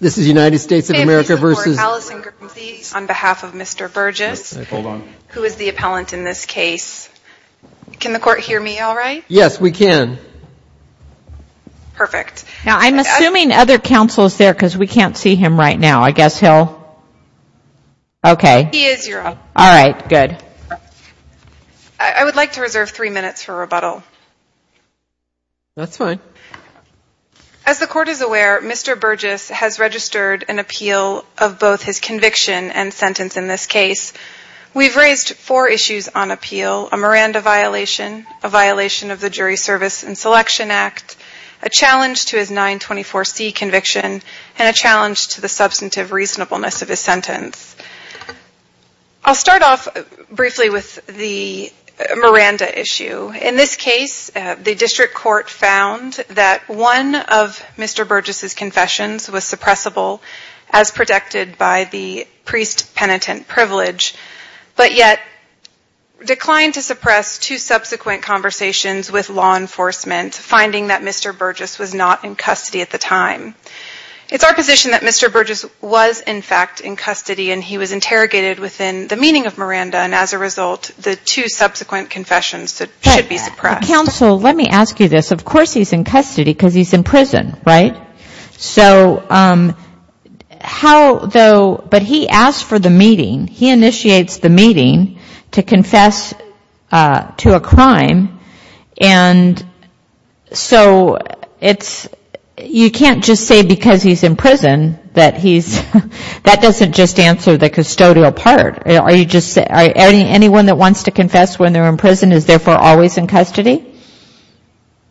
this is United States of America versus on behalf of mr. Burgess who is the appellant in this case can the court hear me all right yes we can perfect now I'm assuming other counsels there because we can't see him right now I guess he'll okay all right good I would like to reserve three minutes for Mr. Burgess has registered an appeal of both his conviction and sentence in this case we've raised four issues on appeal a Miranda violation a violation of the jury service and selection act a challenge to his 924 C conviction and a challenge to the substantive reasonableness of his sentence I'll start off briefly with the Miranda issue in this case the district court found that one of mr. Burgess's confessions was suppressible as protected by the priest penitent privilege but yet declined to suppress two subsequent conversations with law enforcement finding that mr. Burgess was not in custody at the time it's our position that mr. Burgess was in fact in custody and he was interrogated within the meaning of Miranda and as a result the two subsequent confessions should be suppressed counsel let me ask you this of course he's in custody because he's in prison right so how though but he asked for the meeting he initiates the meeting to confess to a crime and so it's you can't just say because he's in prison that he's that doesn't just answer the custodial part are you just anyone that wants to confess when they're in prison is therefore always in custody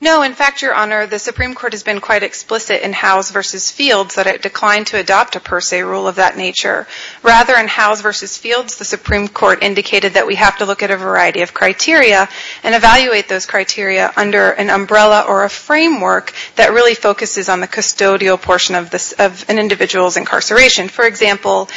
no in fact your honor the Supreme Court has been quite explicit in house versus fields that it declined to adopt a per se rule of that nature rather in house versus fields the Supreme Court indicated that we have to look at a variety of criteria and evaluate those criteria under an umbrella or a framework that really focuses on the custodial portion of this of an individual's incarceration for example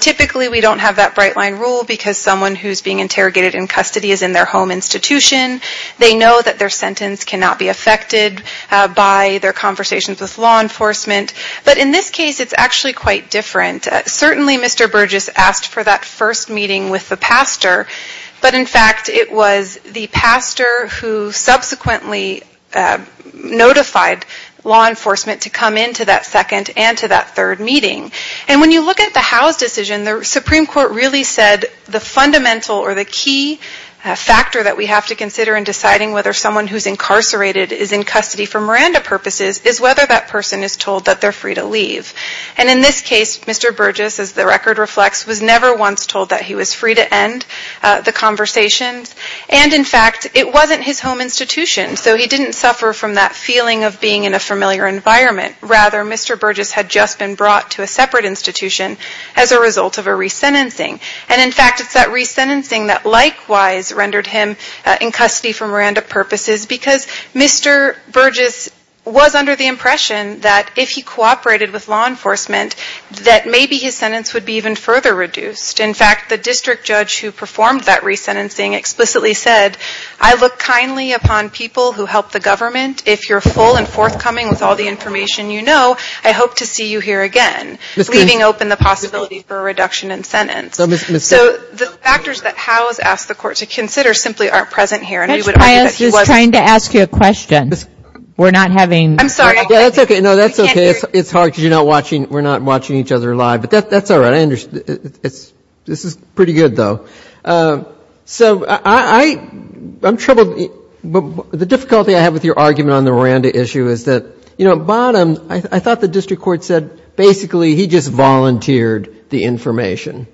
typically we don't have that bright line rule because someone who's being interrogated in custody is in their home institution they know that their sentence cannot be affected by their conversations with law enforcement but in this case it's actually quite different certainly Mr. Burgess asked for that first meeting with the pastor but in fact it was the pastor who subsequently notified law enforcement to come into that second and to that third meeting and when you look at the house decision the Supreme Court really said the fundamental or the key factor that we have to consider in deciding whether someone who's incarcerated is in custody for Miranda purposes is whether that person is told that they're free to leave and in this case Mr. Burgess as the record reflects was never once told that he was free to end the conversations and in fact it wasn't his home institution so he didn't suffer from that feeling of being in a familiar environment rather Mr. Burgess had just been brought to a separate institution as a result of a re-sentencing and in fact it's that re-sentencing that likewise rendered him in custody for Miranda purposes because Mr. Burgess was under the impression that if he cooperated with law enforcement that maybe his sentence would be even further reduced in fact the district judge who performed that re-sentencing explicitly said I look kindly upon people who help the government if you're full and forthcoming with all the information you know I hope to see you here again leaving open the possibility for a re-sentence. So the factors that Howe has asked the court to consider simply aren't present here. Judge Pius is trying to ask you a question we're not having I'm sorry that's okay no that's okay it's hard because you're not watching we're not watching each other live but that's all right I understand it's this is pretty good though so I I'm troubled but the difficulty I have with your argument on the Miranda issue is that you know bottom I thought the district court said basically he just volunteered the information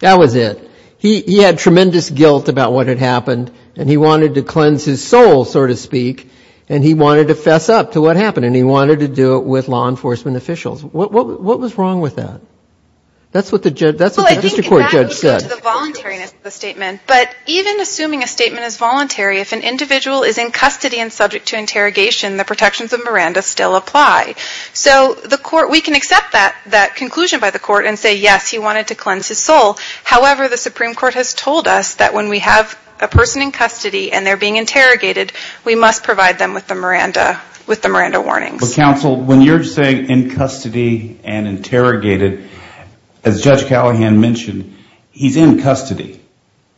that was it he had tremendous guilt about what had happened and he wanted to cleanse his soul so to speak and he wanted to fess up to what happened and he wanted to do it with law enforcement officials what was wrong with that that's what the judge that's what the district court judge said but even assuming a statement is voluntary if an individual is in custody and subject to interrogation the protections of Miranda still apply so the court we can accept that that conclusion by the court and say yes he wanted to cleanse his soul however the Supreme Court has told us that when we have a person in custody and they're being interrogated we must provide them with the Miranda with the Miranda warnings counsel when you're saying in custody and interrogated as Judge Callahan mentioned he's in custody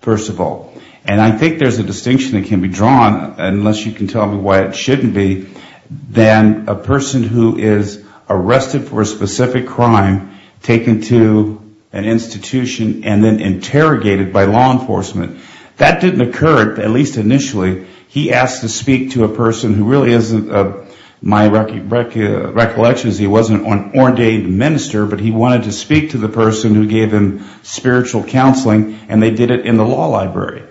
first of all and I think there's a distinction that can be drawn unless you can tell me why it shouldn't be then a person who is arrested for a specific crime taken to an institution and then interrogated by law enforcement that didn't occur at least initially he asked to speak to a person who really isn't my recollections he wasn't on ordained minister but he wanted to speak to the person who gave him spiritual counseling and they did it in the law library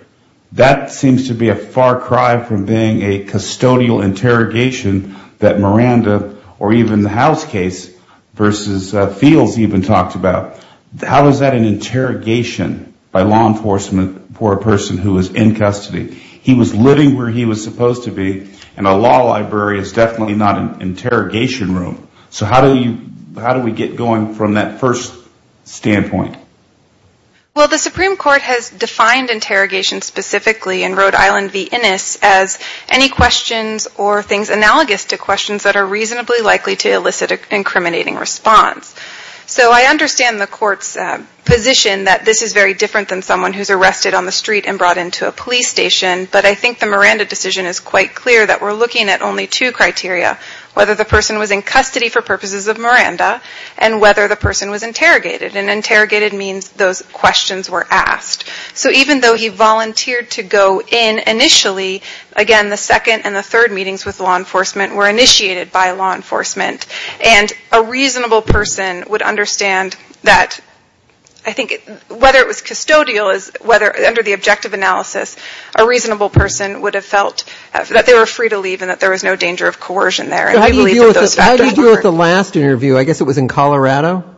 that seems to be a far cry from being a custodial interrogation that Miranda or even the house case versus fields even talked about how is that an interrogation by law enforcement for a person who is in custody he was living where he was supposed to be and a law library is definitely not an interrogation room so how do you how do we get going from that first standpoint well the Supreme Court has defined interrogation specifically in Rhode Island v. Innis as any questions or things analogous to questions that are reasonably likely to elicit an incriminating response so I understand the court's position that this is very different than someone who's arrested on the street and brought into a police station but I think the Miranda decision is quite clear that we're looking at only two criteria whether the person was in custody for purposes of Miranda and whether the person was interrogated and interrogated means those questions were asked so even though he volunteered to go in initially again the second and the third meetings with law enforcement were initiated by law enforcement and a reasonable person would understand that I think whether it was custodial is whether under the objective analysis a reasonable person would have felt that they were free to leave and that there was no danger of coercion there the last interview I guess it was in Colorado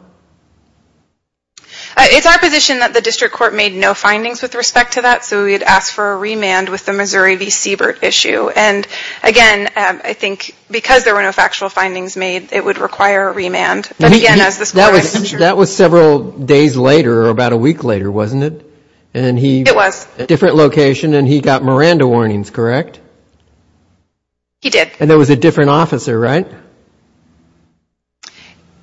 it's our position that the district court made no findings with respect to that so we had asked for a remand with the Missouri v. Siebert issue and again I think because there were no factual findings made it would require a remand that was several days later or about a week later wasn't it and he it was a different location and he got Miranda warnings correct he did and there was a different officer right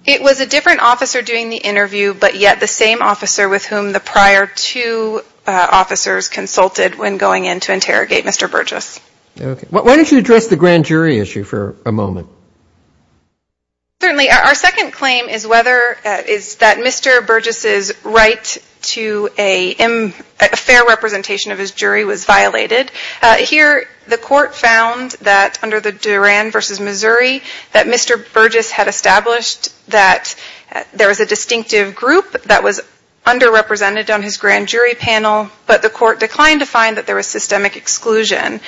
it was a different officer doing the interview but yet the same officer with whom the prior two officers consulted when going in to interrogate mr. Burgess why don't you address the grand jury issue for a moment certainly our second claim is whether is that mr. Burgess is right to a fair representation of his jury was here the court found that under the Durand v. Missouri that mr. Burgess had established that there was a distinctive group that was underrepresented on his grand jury panel but the court declined to find that there was systemic exclusion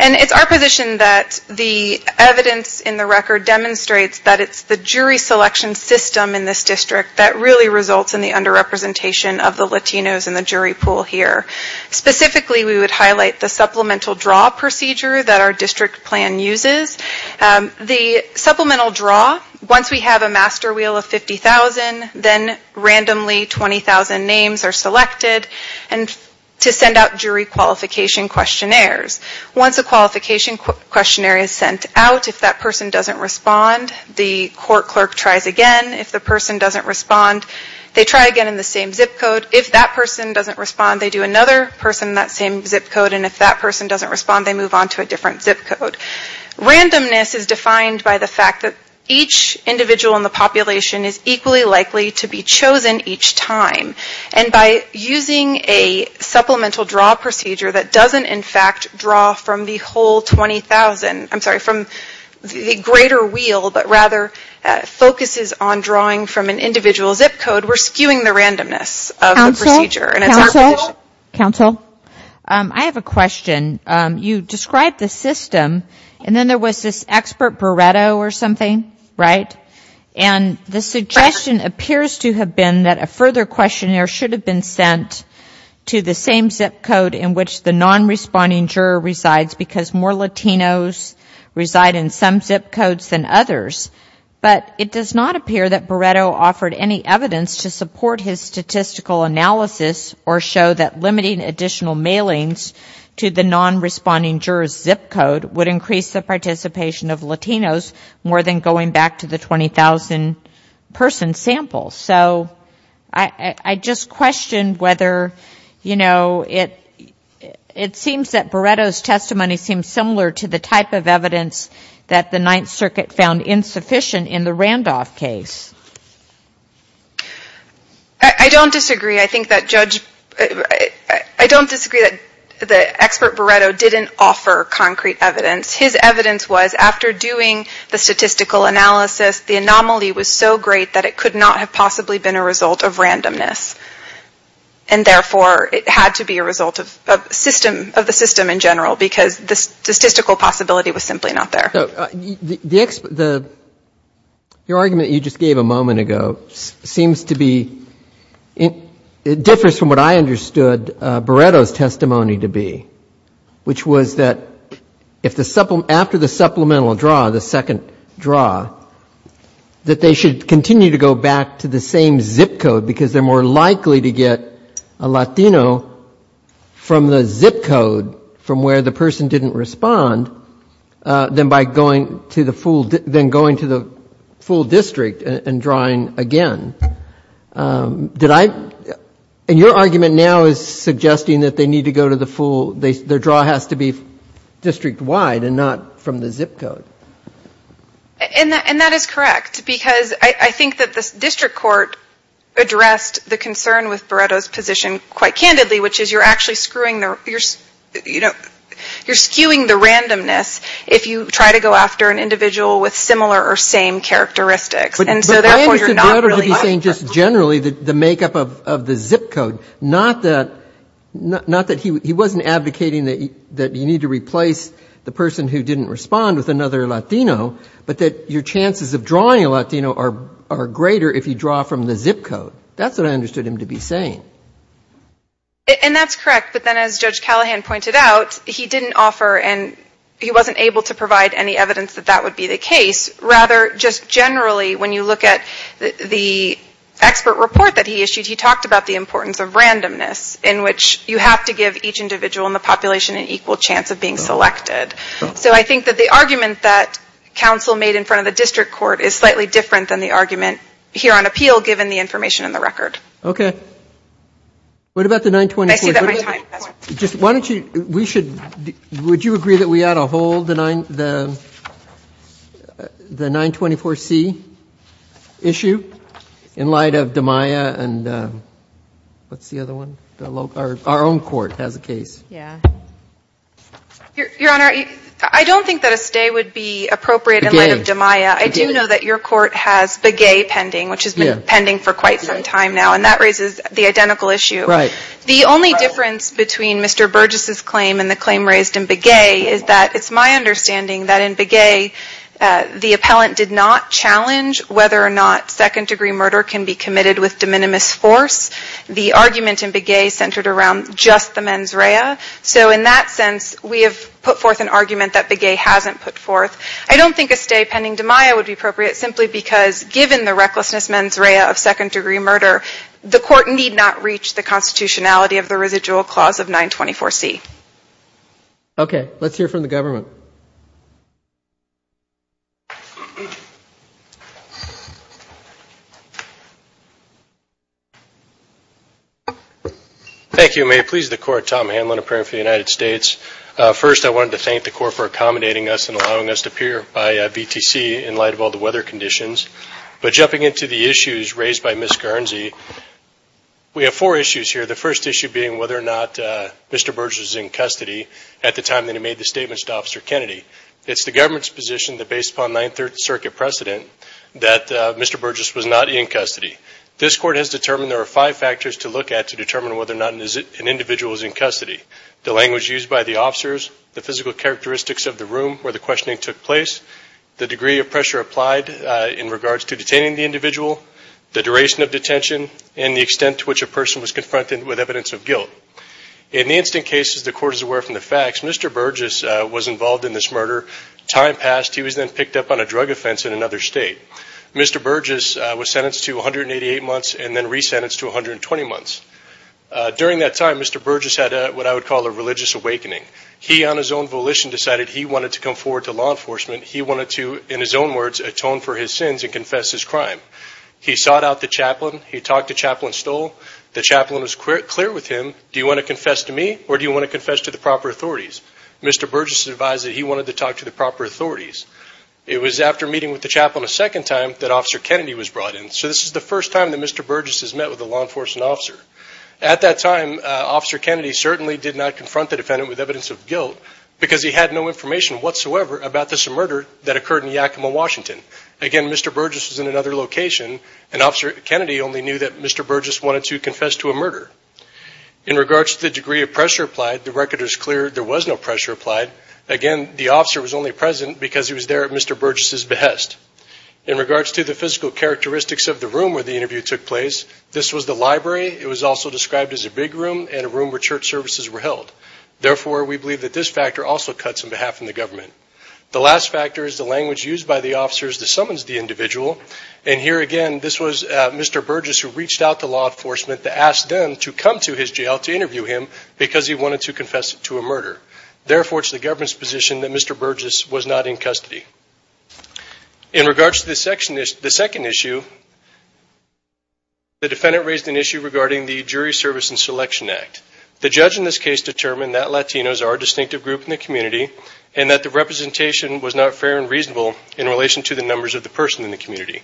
and it's our position that the evidence in the record demonstrates that it's the jury selection system in this district that really results in the underrepresentation of the Latinos in the jury pool here specifically we would like the supplemental draw procedure that our district plan uses the supplemental draw once we have a master wheel of 50,000 then randomly 20,000 names are selected and to send out jury qualification questionnaires once a qualification questionnaire is sent out if that person doesn't respond the court clerk tries again if the person doesn't respond they try again in the same zip code if that person doesn't respond they do another person that same zip code and if that person doesn't respond they move on to a different zip code randomness is defined by the fact that each individual in the population is equally likely to be chosen each time and by using a supplemental draw procedure that doesn't in fact draw from the whole 20,000 I'm sorry from the greater wheel but rather focuses on drawing from an individual zip code we're skewing the question you described the system and then there was this expert Beretta or something right and the suggestion appears to have been that a further questionnaire should have been sent to the same zip code in which the non-responding juror resides because more Latinos reside in some zip codes than others but it does not appear that Beretta offered any evidence to support his statistical analysis or show that limiting additional mailings to the non-responding jurors zip code would increase the participation of Latinos more than going back to the 20,000 person sample so I just questioned whether you know it it seems that Beretta's testimony seems similar to the type of evidence that the Ninth Circuit found insufficient in the Randolph case I don't disagree I think that judge I don't disagree that the expert Beretta didn't offer concrete evidence his evidence was after doing the statistical analysis the anomaly was so great that it could not have possibly been a result of randomness and therefore it had to be a result of system of the system in general because this statistical possibility was simply not there the your argument you just gave a moment ago seems to be it differs from what I understood Beretta's testimony to be which was that if the supplement after the supplemental draw the second draw that they should continue to go back to the same zip code because they're more likely to get a Latino from the zip code from where the person didn't respond then by going to the full then going to the full district and drawing again did I and your argument now is suggesting that they need to go to the full they their draw has to be district wide and not from the zip code and that and that is correct because I think that this district court addressed the concern with Beretta's position quite candidly which is you're actually screwing there you're you know you're skewing the randomness if you try to go after an individual with similar or same characteristics and so therefore you're not really saying just generally that the makeup of the zip code not that not that he wasn't advocating that that you need to replace the person who didn't respond with another Latino but that your chances of drawing a Latino are greater if you draw from the zip code that's what I understood him to be saying and that's correct but then as Judge Callahan pointed out he didn't offer and he wasn't able to provide any evidence that that would be the case rather just generally when you look at the expert report that he issued he talked about the importance of randomness in which you have to give each individual in the population an equal chance of being selected so I think that the argument that counsel made in front of the district court is slightly different than the argument here on appeal given the information in the record okay what about the 924 just why don't you we should would you agree that we ought to hold the 9 the the 924 C issue in light of the Maya and what's the other one our own court has a case yeah your honor I don't think that a stay would be appropriate in light of your court has big a pending which is pending for quite some time now and that raises the identical issue right the only difference between mr. Burgess's claim and the claim raised in big a is that it's my understanding that in big a the appellant did not challenge whether or not second-degree murder can be committed with de minimis force the argument in big a centered around just the mens rea so in that sense we have put forth an argument that big a hasn't put forth I don't think a stay pending to Maya would be appropriate simply because given the recklessness mens rea of second-degree murder the court need not reach the constitutionality of the residual clause of 924 C okay let's hear from the government thank you may please the court Tom Hamlin a prayer for the United States first I wanted to thank the court for accommodating us and allowing us to appear by BTC in light of all the weather conditions but jumping into the issues raised by Miss Guernsey we have four issues here the first issue being whether or not mr. Burgess is in custody at the time that he made the statements to officer Kennedy it's the government's position that based upon 9th Circuit precedent that mr. Burgess was not in custody this court has determined there are five factors to look at to determine whether or not an individual is in custody the first one is the degree of pressure applied by the officers the physical characteristics of the room where the questioning took place the degree of pressure applied in regards to detaining the individual the duration of detention and the extent to which a person was confronted with evidence of guilt in the instant cases the court is aware from the facts mr. Burgess was involved in this murder time passed he was then picked up on a drug offense in another state mr. Burgess was sentenced to 188 months and then resentenced to 120 months during that time mr. Burgess had a what I would call a religious awakening he on his own volition decided he wanted to come forward to law enforcement he wanted to in his own words atone for his sins and confess his crime he sought out the chaplain he talked to chaplain Stoll the chaplain was clear with him do you want to confess to me or do you want to confess to the proper authorities mr. Burgess advised that he wanted to talk to the proper authorities it was after meeting with the chaplain a second time that officer Kennedy was brought in so this is the first time that mr. Burgess has met with a law enforcement officer at that time officer Kennedy certainly did not confront the defendant with evidence of guilt because he had no information whatsoever about this murder that occurred in Yakima Washington again mr. Burgess was in another location and officer Kennedy only knew that mr. Burgess wanted to confess to a murder in regards to the degree of pressure applied the record is clear there was no pressure applied again the officer was only present because he was there at mr. Burgess's behest in regards to the physical characteristics of the room where the interview took place this was the library it was also described as a big room and a room where church services were held therefore we believe that this factor also cuts on behalf of the government the last factor is the language used by the officers that summons the individual and here again this was mr. Burgess who reached out to law enforcement to ask them to come to his jail to interview him because he wanted to confess to a murder therefore it's the government's position that mr. Burgess was not in custody in regards to this section is the second issue the defendant raised an issue regarding the jury service and Selection Act the judge in this case determined that Latinos are distinctive group in the community and that the representation was not fair and reasonable in relation to the numbers of the person in the community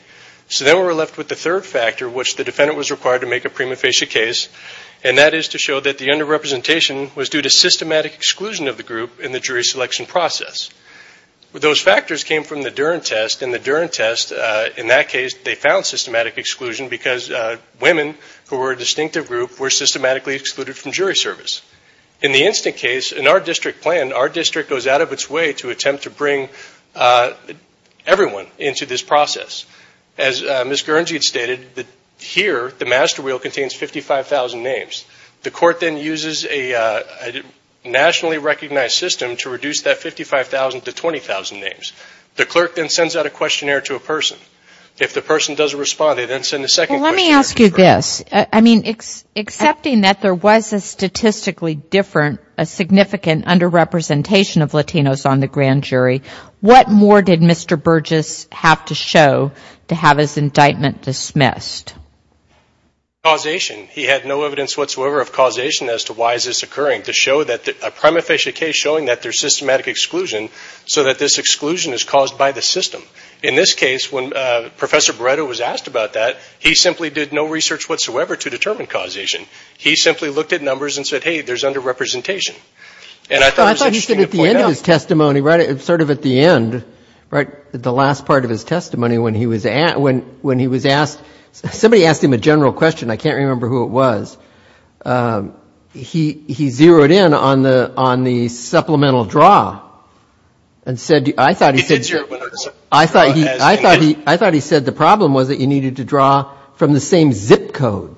so then we're left with the third factor which the defendant was required to make a prima facie case and that is to show that the under representation was due to systematic exclusion of the group in the case those factors came from the Durant test in the Durant test in that case they found systematic exclusion because women who were a distinctive group were systematically excluded from jury service in the instant case in our district plan our district goes out of its way to attempt to bring everyone into this process as miss Guernsey had stated that here the master wheel contains 55,000 names the court then uses a nationally recognized system to reduce that 55,000 to 20,000 names the clerk then sends out a questionnaire to a person if the person doesn't respond they then send the second let me ask you this I mean it's accepting that there was a statistically different a significant under representation of Latinos on the grand jury what more did mr. Burgess have to show to have his indictment dismissed causation he had no evidence whatsoever of causation as to why is this occurring to show that the prima facie case showing that there's systematic exclusion so that this exclusion is caused by the system in this case when professor Beretta was asked about that he simply did no research whatsoever to determine causation he simply looked at numbers and said hey there's under representation and I thought he said at the end of his testimony right it's sort of at the end right the last part of his testimony when he was at when when he was asked somebody asked him a general question I can't remember who it was he he zeroed in on the on the supplemental draw and said I thought he said I thought I thought he I thought he said the problem was that you needed to draw from the same zip code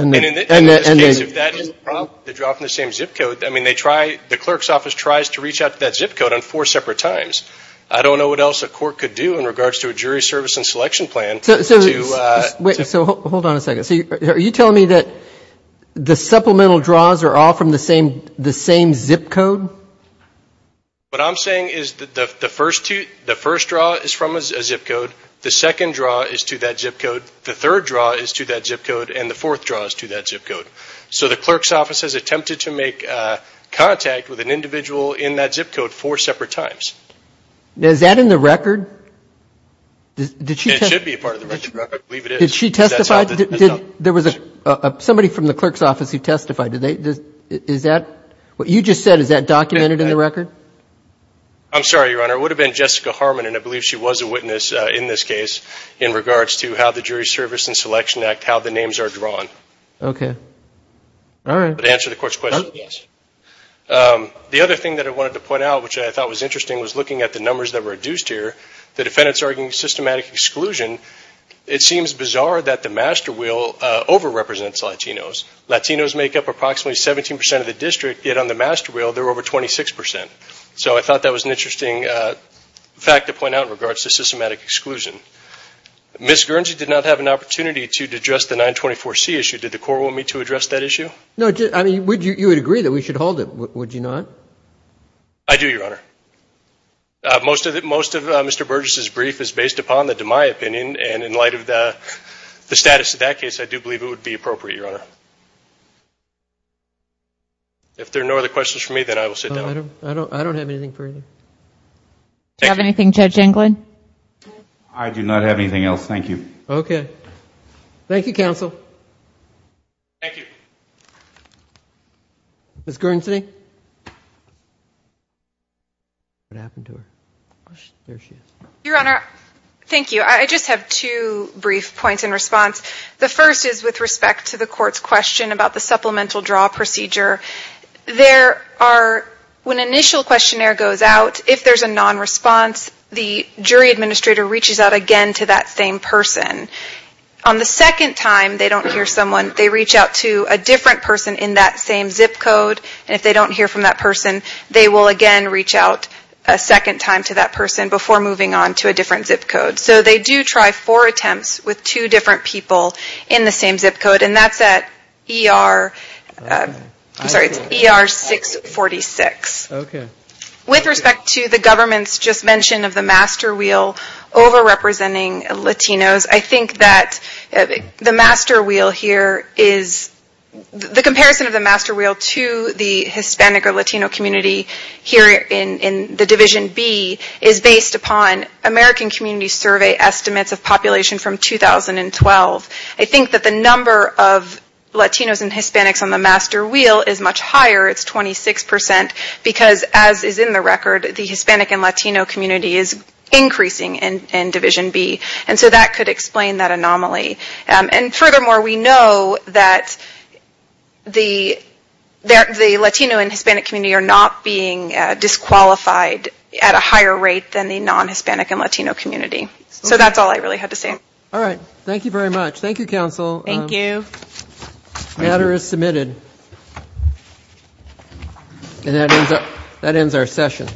I mean they try the clerk's office tries to reach out to that zip code on four separate times I don't know what else a court could do in regards to a jury service and selection plan so wait so hold on a minute are you telling me that the supplemental draws are all from the same the same zip code what I'm saying is that the first two the first draw is from a zip code the second draw is to that zip code the third draw is to that zip code and the fourth draws to that zip code so the clerk's office has attempted to make contact with an individual in that zip code four separate times is that in the record there was a somebody from the clerk's office who testified today is that what you just said is that documented in the record I'm sorry your honor would have been Jessica Harmon and I believe she was a witness in this case in regards to how the jury service and selection act how the names are drawn okay all right answer the court's question yes the other thing that I wanted to point out which I thought was interesting was looking at the numbers that were reduced here the defendants arguing systematic exclusion it seems bizarre that the master wheel over represents Latinos Latinos make up approximately 17% of the district yet on the master wheel they're over 26% so I thought that was an interesting fact to point out in regards to systematic exclusion miss Guernsey did not have an opportunity to address the 924 C issue did the court want me to address that issue no I mean would you agree that we should hold it would you not I do your honor most of it most of mr. Burgess's brief is based upon the to my opinion and in light of the the status of that case I do believe it would be appropriate your honor if there are no other questions for me then I will sit down I don't I don't have anything further have anything judge Englund I do not have anything else thank you okay Thank You counsel thank you miss Guernsey your honor thank you I just have two brief points in response the first is with respect to the court's question about the supplemental draw procedure there are when initial questionnaire goes out if there's a non response the person on the second time they don't hear someone they reach out to a different person in that same zip code and if they don't hear from that person they will again reach out a second time to that person before moving on to a different zip code so they do try for attempts with two different people in the same zip code and that's at er I'm sorry it's er 646 okay with respect to the government's just mention of the master wheel over representing Latinos I think that the master wheel here is the comparison of the master wheel to the Hispanic or Latino community here in in the Division B is based upon American Community Survey estimates of population from 2012 I think that the number of Latinos and Hispanics on the master wheel is much higher it's 26% because as is in the record the Hispanic and Latino community is increasing and in Division B and so that could explain that anomaly and furthermore we know that the there the Latino and Hispanic community are not being disqualified at a higher rate than the non Hispanic and Latino community so that's all I really had to say all right thank you very much Thank You council thank you matter is submitted and that ends up that ends our session